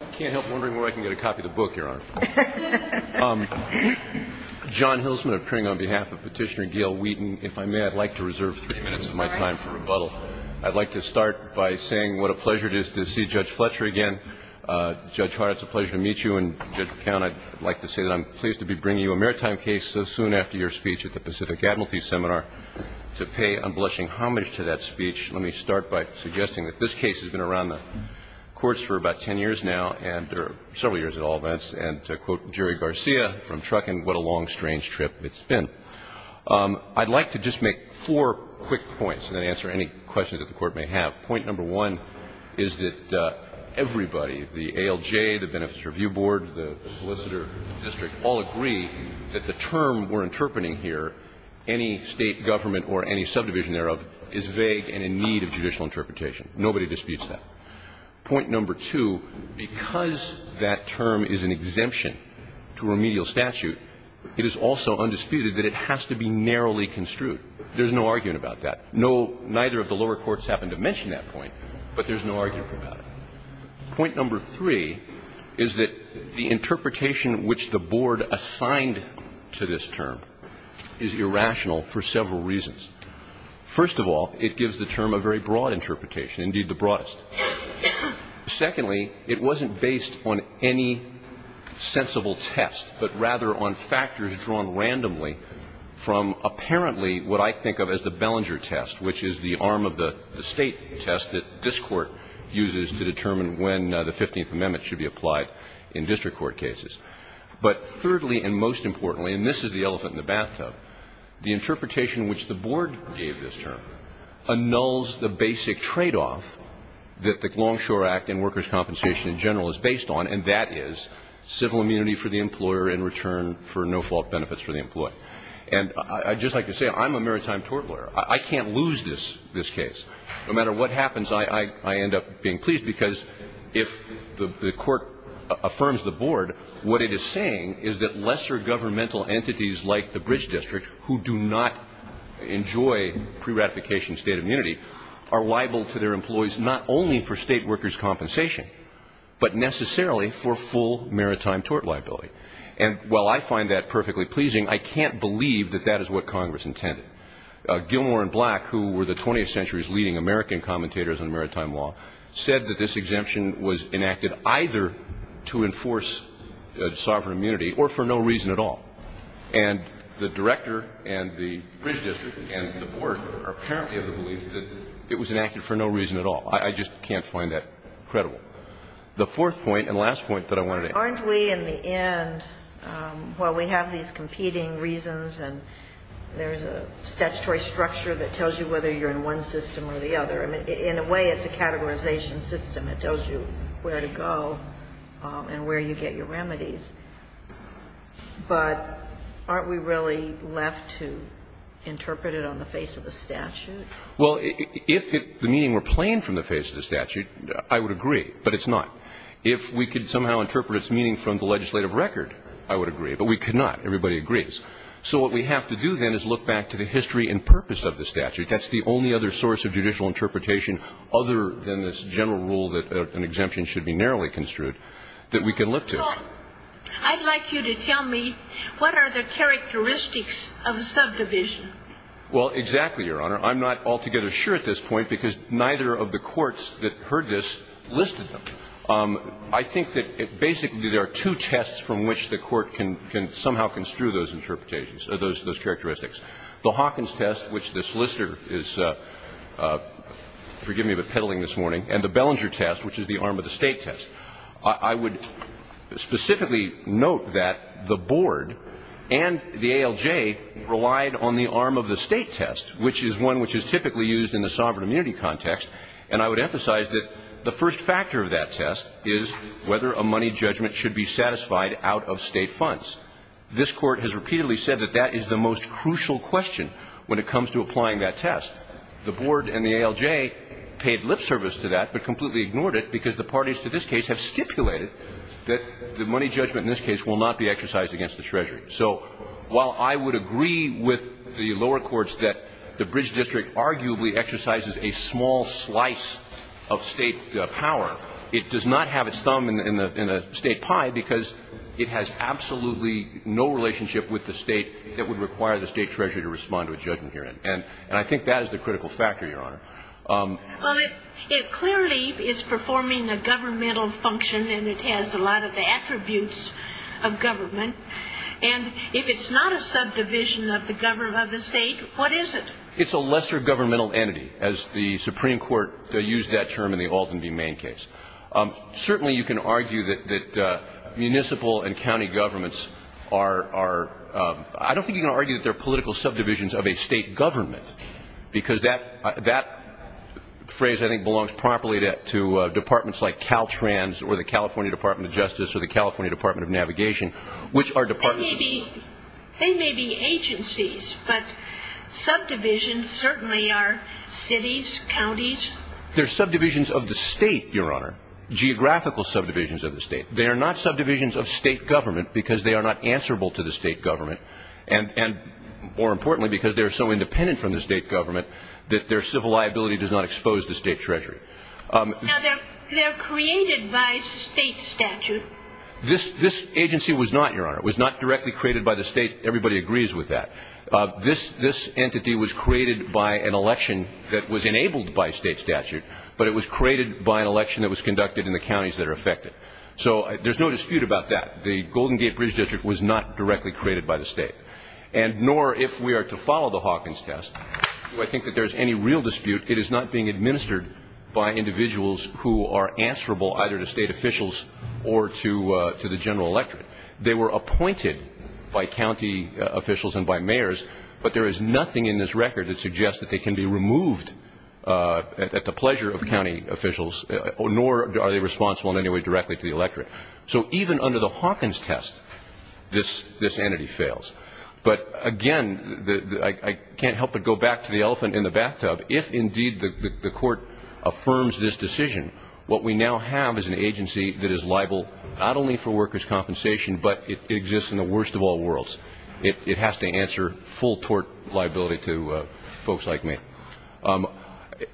I can't help wondering where I can get a copy of the book, Your Honor. John Hilsman of Kring on behalf of Petitioner Gail Wheaton, if I may, I'd like to reserve three minutes of my time for rebuttal. I'd like to start by saying what a pleasure it is to see Judge Fletcher again. Judge Hart, it's a pleasure to meet you, and Judge McCown, I'd like to say that I'm pleased to be bringing you a maritime case so soon after your speech at the Pacific Admiralty Seminar to pay unblushing homage to that speech. Let me start by suggesting that this case has been around the courts for about ten years now, several years at all events, and to quote Jerry Garcia from Truckin, what a long, strange trip it's been. I'd like to just make four quick points and then answer any questions that the Court may have. Point number one is that everybody, the ALJ, the Benefits Review Board, the Solicitor District, all agree that the term we're interpreting here, any State government or any subdivision thereof, is vague and in need of judicial interpretation. Nobody disputes that. Point number two, because that term is an exemption to remedial statute, it is also undisputed that it has to be narrowly construed. There's no argument about that. No, neither of the lower courts happen to mention that point, but there's no argument about it. Point number three is that the interpretation which the Board assigned to this term is irrational for several reasons. First of all, it gives the term a very broad interpretation, indeed the broadest. Secondly, it wasn't based on any sensible test, but rather on factors drawn randomly from apparently what I think of as the Bellinger test, which is the arm of the State test that this Court uses to determine when the Fifteenth Amendment should be applied in district court cases. But thirdly and most importantly, and this is the elephant in the bathtub, the interpretation which the Board gave this term annuls the basic tradeoff that the Longshore Act and workers' compensation in general is based on, and that is civil immunity for the employer in return for no-fault benefits for the employee. And I'd just like to say I'm a maritime tort lawyer. I can't lose this case. No matter what happens, I end up being pleased because if the Court affirms the Board, what it is saying is that lesser governmental entities like the Bridge District who do not enjoy pre-ratification state immunity are liable to their employees not only for state workers' compensation, but necessarily for full maritime tort liability. And while I find that perfectly pleasing, I can't believe that that is what Congress intended. Gilmore and Black, who were the 20th century's leading American commentators on maritime law, said that this exemption was enacted either to enforce sovereign immunity or for no reason at all. And the Director and the Bridge District and the Board are apparently of the belief that it was enacted for no reason at all. I just can't find that credible. The fourth point and last point that I wanted to add. Aren't we in the end, well, we have these competing reasons and there's a statutory structure that tells you whether you're in one system or the other. In a way, it's a categorization system. It tells you where to go and where you get your remedies. But aren't we really left to interpret it on the face of the statute? Well, if the meaning were plain from the face of the statute, I would agree, but it's not. If we could somehow interpret its meaning from the legislative record, I would agree. But we could not. Everybody agrees. So what we have to do then is look back to the history and purpose of the statute. That's the only other source of judicial interpretation other than this general rule that an exemption should be narrowly construed that we can look to. So I'd like you to tell me what are the characteristics of subdivision? Well, exactly, Your Honor. I'm not altogether sure at this point because neither of the courts that heard this listed them. I think that basically there are two tests from which the Court can somehow construe those interpretations or those characteristics. The Hawkins test, which the solicitor is, forgive me, but peddling this morning, and the Bellinger test, which is the arm of the State test. I would specifically note that the board and the ALJ relied on the arm of the State test, which is one which is typically used in the sovereign immunity context. And I would emphasize that the first factor of that test is whether a money judgment should be satisfied out of State funds. This Court has repeatedly said that that is the most crucial question when it comes to applying that test. The board and the ALJ paid lip service to that but completely ignored it because the parties to this case have stipulated that the money judgment in this case will not be exercised against the Treasury. So while I would agree with the lower courts that the Bridge District arguably exercises a small slice of State power, it does not have its thumb in the State pie because it has absolutely no relationship with the State that would require the State Treasury to respond to a judgment hearing. And I think that is the critical factor, Your Honor. Well, it clearly is performing a governmental function and it has a lot of the attributes of government. And if it's not a subdivision of the State, what is it? It's a lesser governmental entity, as the Supreme Court used that term in the Alton v. Main case. Certainly you can argue that municipal and county governments are – I don't think you can argue that they're political subdivisions of a State government because that phrase I think belongs properly to departments like Caltrans or the California Department of Justice or the California Department of Navigation, which are departments of the State. They may be agencies, but subdivisions certainly are cities, counties. They're subdivisions of the State, Your Honor. Geographical subdivisions of the State. They are not subdivisions of State government because they are not answerable to the State government and, more importantly, because they are so independent from the State government that their civil liability does not expose the State Treasury. Now, they're created by State statute. This agency was not, Your Honor. It was not directly created by the State. Everybody agrees with that. This entity was created by an election that was enabled by State statute, but it was created by an election that was conducted in the counties that are affected. So there's no dispute about that. The Golden Gate Bridge District was not directly created by the State. And nor, if we are to follow the Hawkins test, do I think that there is any real dispute. It is not being administered by individuals who are answerable either to State officials or to the general electorate. They were appointed by county officials and by mayors, but there is nothing in this record that suggests that they can be removed at the pleasure of county officials, nor are they responsible in any way directly to the electorate. So even under the Hawkins test, this entity fails. But, again, I can't help but go back to the elephant in the bathtub. If, indeed, the Court affirms this decision, what we now have is an agency that is in the worst of all worlds. It has to answer full tort liability to folks like me.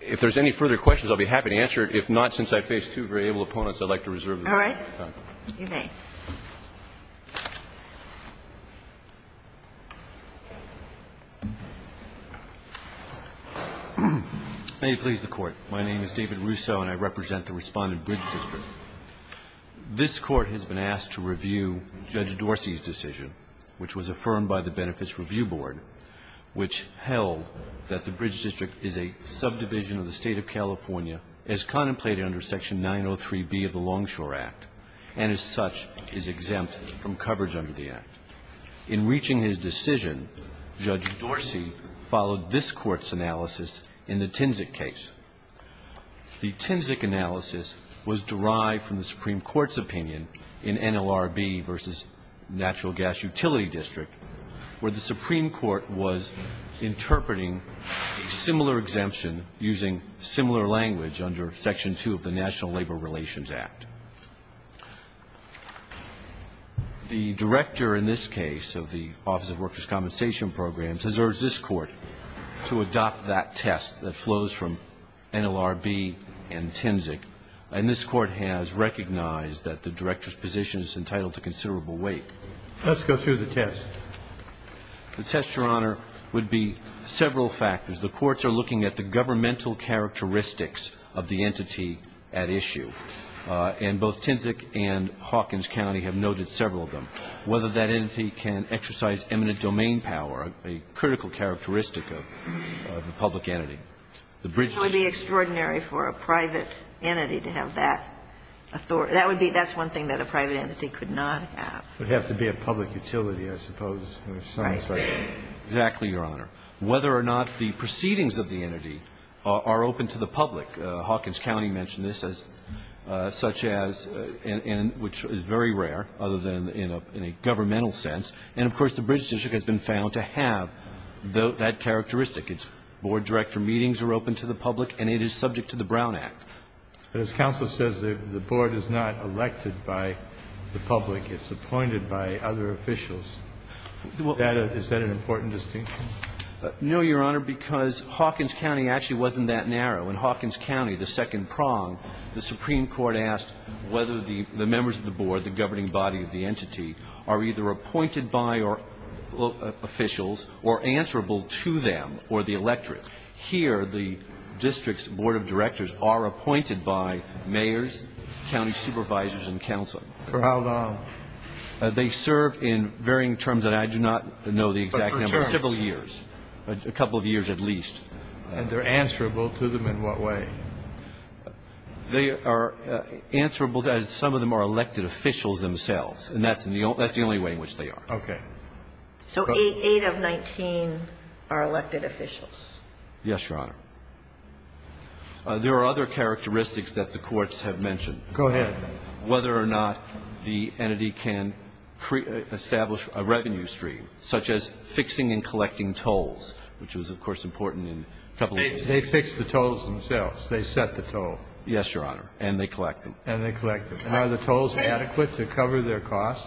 If there's any further questions, I'll be happy to answer it. If not, since I face two very able opponents, I'd like to reserve the rest of my time. All right. You may. May it please the Court. My name is David Russo, and I represent the Respondent Bridge District. This Court has been asked to review Judge Dorsey's decision, which was affirmed by the Benefits Review Board, which held that the Bridge District is a subdivision of the State of California as contemplated under Section 903B of the Longshore Act, and as such is exempt from coverage under the Act. In reaching his decision, Judge Dorsey followed this Court's analysis in the Tinsic case. The Tinsic analysis was derived from the Supreme Court's opinion in NLRB versus Natural Gas Utility District, where the Supreme Court was interpreting a similar exemption using similar language under Section 2 of the National Labor Relations Act. The Director in this case of the Office of Workers' Compensation Programs has urged this Court to adopt that test that flows from NLRB and Tinsic, and this Court has recognized that the Director's position is entitled to considerable weight. Let's go through the test. The test, Your Honor, would be several factors. The courts are looking at the governmental characteristics of the entity at issue, and both Tinsic and Hawkins County have noted several of them. Whether that entity can exercise eminent domain power, a critical characteristic of the public entity. The bridge to Tinsic. It would be extraordinary for a private entity to have that authority. That would be one thing that a private entity could not have. It would have to be a public utility, I suppose. Right. Exactly, Your Honor. Whether or not the proceedings of the entity are open to the public. Hawkins County mentioned this as such as, and which is very rare other than in a governmental sense. And, of course, the bridge to Tinsic has been found to have that characteristic. Its board director meetings are open to the public, and it is subject to the Brown Act. But as counsel says, the board is not elected by the public. It's appointed by other officials. Is that an important distinction? No, Your Honor, because Hawkins County actually wasn't that narrow. In Hawkins County, the second prong, the Supreme Court asked whether the members of the board, the governing body of the entity, are either appointed by officials or answerable to them or the electorate. Here, the district's board of directors are appointed by mayors, county supervisors, and counsel. For how long? They serve in varying terms, and I do not know the exact number. For several years. A couple of years at least. And they're answerable to them in what way? They are answerable, as some of them are elected officials themselves. And that's the only way in which they are. Okay. So 8 of 19 are elected officials? Yes, Your Honor. There are other characteristics that the courts have mentioned. Go ahead. Whether or not the entity can establish a revenue stream, such as fixing and collecting tolls, which was, of course, important in a couple of cases. They fix the tolls themselves. They set the toll. Yes, Your Honor. And they collect them. And they collect them. And are the tolls adequate to cover their costs?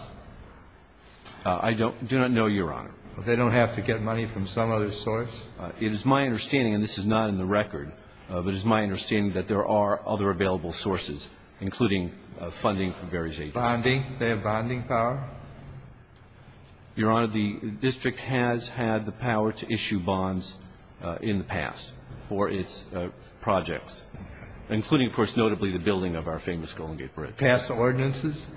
I do not know, Your Honor. They don't have to get money from some other source? It is my understanding, and this is not in the record, but it is my understanding that there are other available sources, including funding from various agencies. Bonding. They have bonding power? Your Honor, the district has had the power to issue bonds in the past for its projects, including, of course, notably the building of our famous Golden Gate Bridge. Pass ordinances?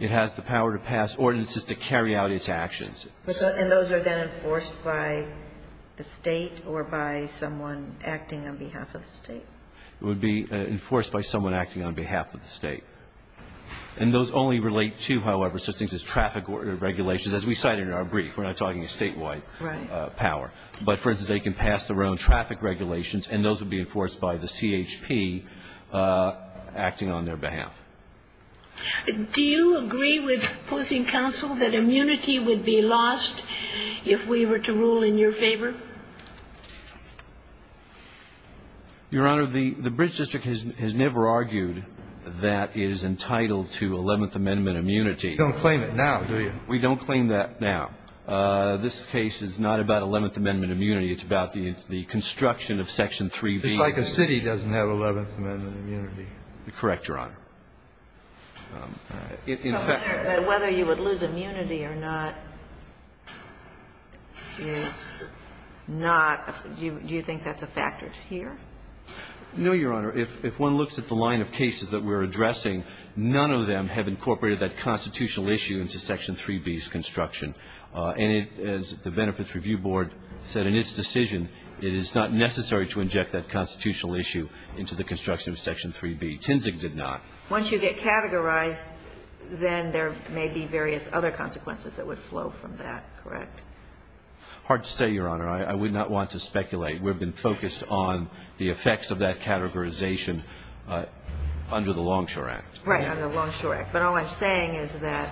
It has the power to pass ordinances to carry out its actions. And those are then enforced by the State or by someone acting on behalf of the State? It would be enforced by someone acting on behalf of the State. And those only relate to, however, such things as traffic regulations, as we cited in our brief. We're not talking a statewide power. Right. But, for instance, they can pass their own traffic regulations, and those would be enforced by the CHP acting on their behalf. Do you agree with opposing counsel that immunity would be lost if we were to rule in your favor? Your Honor, the bridge district has never argued that it is entitled to Eleventh Amendment immunity. You don't claim it now, do you? We don't claim that now. This case is not about Eleventh Amendment immunity. It's about the construction of Section 3B. It's like a city doesn't have Eleventh Amendment immunity. Correct, Your Honor. Whether you would lose immunity or not is not do you think that's a factor here? No, Your Honor. If one looks at the line of cases that we're addressing, none of them have incorporated that constitutional issue into Section 3B's construction. And as the Benefits Review Board said in its decision, it is not necessary to inject that constitutional issue into the construction of Section 3B. Tinzig did not. Once you get categorized, then there may be various other consequences that would flow from that, correct? Hard to say, Your Honor. I would not want to speculate. We've been focused on the effects of that categorization under the Longshore Act. Right, under the Longshore Act. But all I'm saying is that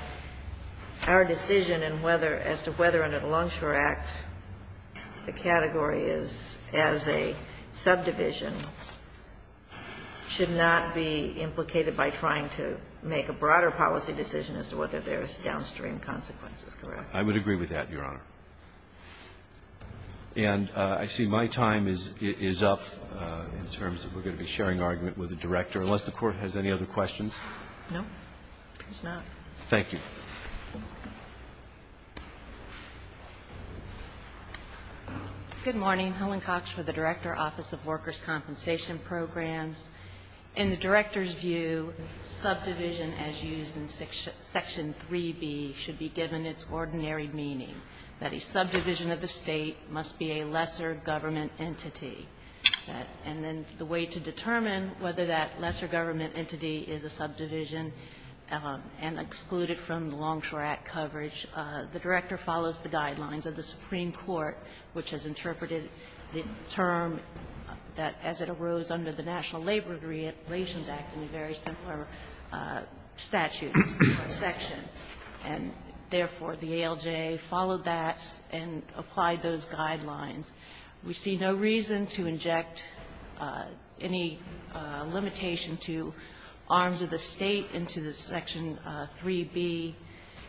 our decision in whether as to whether under the Longshore Act the category is as a subdivision should not be implicated by trying to make a broader policy decision as to whether there is downstream consequences, correct? I would agree with that, Your Honor. And I see my time is up in terms of we're going to be sharing argument with the Director, unless the Court has any other questions. No? There's none. Thank you. Good morning. Helen Cox for the Director, Office of Workers' Compensation Programs. In the Director's view, subdivision as used in Section 3B should be given its ordinary meaning, that a subdivision of the State must be a lesser government entity. And then the way to determine whether that lesser government entity is a subdivision and exclude it from the Longshore Act coverage, the Director follows the guidelines of the Supreme Court, which has interpreted the term that as it arose under the National Labor Relations Act in a very similar statute or section. And therefore, the ALJ followed that and applied those guidelines. We see no reason to inject any limitation to arms of the State into the Section 3B,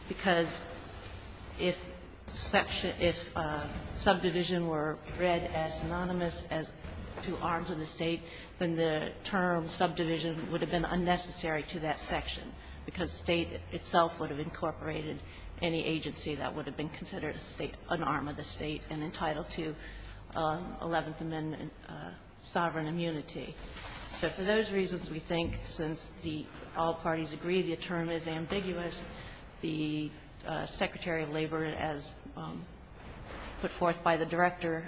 because if subdivision were read as synonymous to arms of the State, then the term subdivision would have been unnecessary to that section, because State itself would have incorporated any agency that would have been considered an arm of the State and entitled to Eleventh Amendment sovereign immunity. So for those reasons, we think, since all parties agree the term is ambiguous, the Secretary of Labor, as put forth by the Director,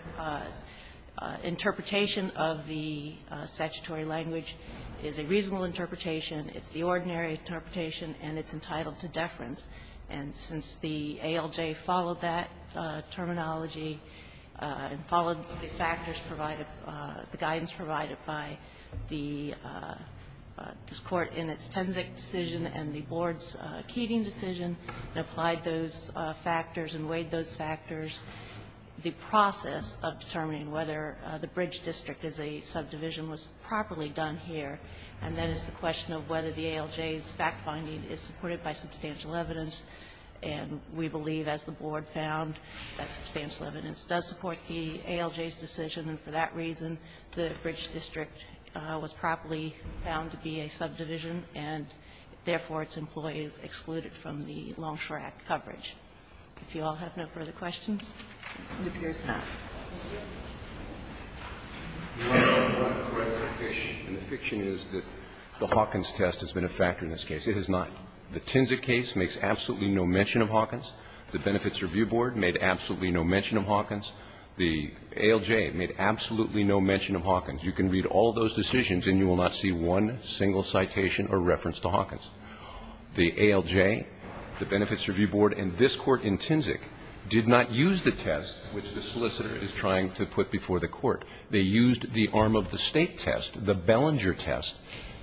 interpretation of the statutory language is a reasonable interpretation, it's the ordinary interpretation, and it's entitled to deference, and since the ALJ followed that terminology and followed the factors provided, the guidance provided by this Court in its Tenzik decision and the Board's Keating decision and applied those factors and weighed those factors, the process of determining whether the bridge district is a subdivision was properly done here, and that is the question of whether the ALJ's fact-finding is supported by substantial evidence. And we believe, as the Board found, that substantial evidence does support the ALJ's decision, and for that reason, the bridge district was properly found to be a subdivision and, therefore, its employees excluded from the Longshore Act coverage. If you all have no further questions, it appears that. And the fiction is that the Hawkins test has been a factor in this case. It has not. The Tenzik case makes absolutely no mention of Hawkins. The Benefits Review Board made absolutely no mention of Hawkins. The ALJ made absolutely no mention of Hawkins. You can read all those decisions and you will not see one single citation or reference to Hawkins. The ALJ, the Benefits Review Board, and this Court in Tenzik did not use the test which the solicitor is trying to put before the Court. They used the arm of the State test, the Bellinger test,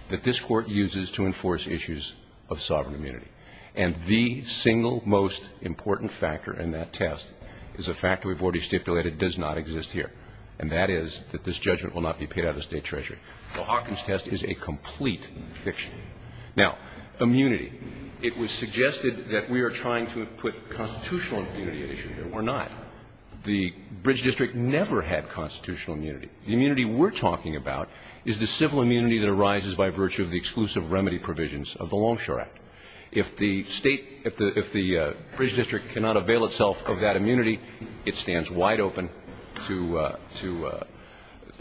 that this Court uses to enforce issues of sovereign immunity. And the single most important factor in that test is a factor we've already stipulated does not exist here, and that is that this judgment will not be paid out of State Treasury. The Hawkins test is a complete fiction. Now, immunity. It was suggested that we are trying to put constitutional immunity at issue here. We're not. The Bridge District never had constitutional immunity. The immunity we're talking about is the civil immunity that arises by virtue of the exclusive remedy provisions of the Longshore Act. If the State, if the Bridge District cannot avail itself of that immunity, it stands wide open to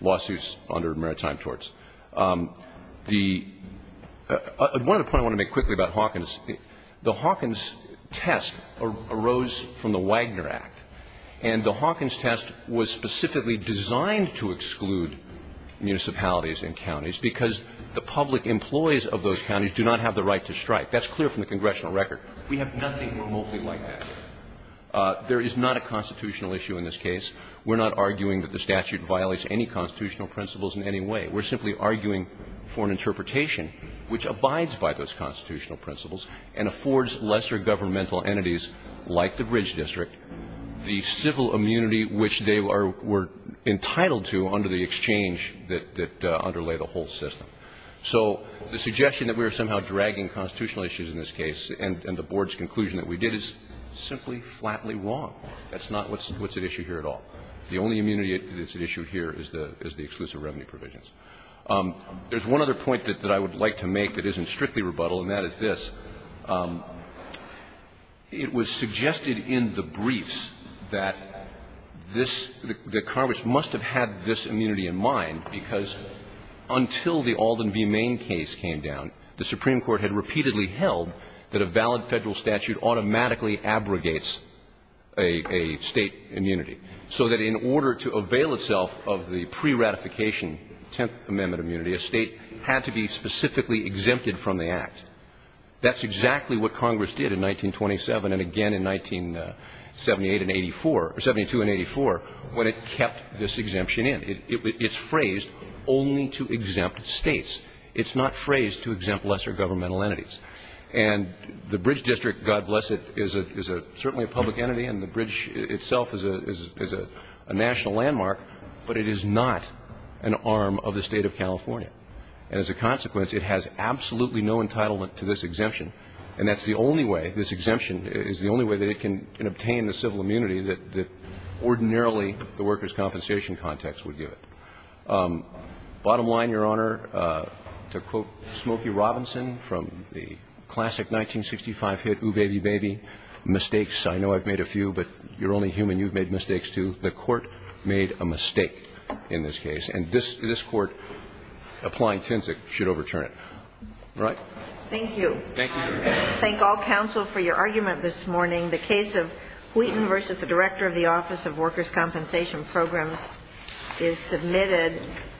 lawsuits under maritime torts. The one other point I want to make quickly about Hawkins, the Hawkins test arose from the Wagner Act, and the Hawkins test was specifically designed to exclude municipalities and counties because the public employees of those counties do not have the right to strike. That's clear from the congressional record. We have nothing remotely like that. There is not a constitutional issue in this case. We're not arguing that the statute violates any constitutional principles in any way. We're simply arguing for an interpretation which abides by those constitutional principles and affords lesser governmental entities like the Bridge District the civil immunity which they were entitled to under the exchange that underlay the whole system. So the suggestion that we are somehow dragging constitutional issues in this case and the Board's conclusion that we did is simply flatly wrong. That's not what's at issue here at all. The only immunity that's at issue here is the exclusive revenue provisions. There's one other point that I would like to make that isn't strictly rebuttal and that is this. It was suggested in the briefs that this the Congress must have had this immunity in mind because until the Alden v. Maine case came down, the Supreme Court had repeatedly held that a valid Federal statute automatically abrogates a State immunity. So that in order to avail itself of the pre-ratification Tenth Amendment immunity, a State had to be specifically exempted from the Act. That's exactly what Congress did in 1927 and again in 1978 and 84 or 72 and 84 when it kept this exemption in. It's phrased only to exempt States. It's not phrased to exempt lesser governmental entities. And the Bridge District, God bless it, is certainly a public entity and the Bridge itself is a national landmark, but it is not an arm of the State of California. And as a consequence, it has absolutely no entitlement to this exemption, and that's the only way, this exemption is the only way that it can obtain the civil immunity that ordinarily the workers' compensation context would give it. Bottom line, Your Honor, to quote Smokey Robinson from the classic 1965 hit The Court made a mistake in this case. And this Court, applying Tinsic, should overturn it. All right? Thank you. Thank you, Your Honor. I thank all counsel for your argument this morning. The case of Wheaton v. Director of the Office of Workers' Compensation Programs is submitted.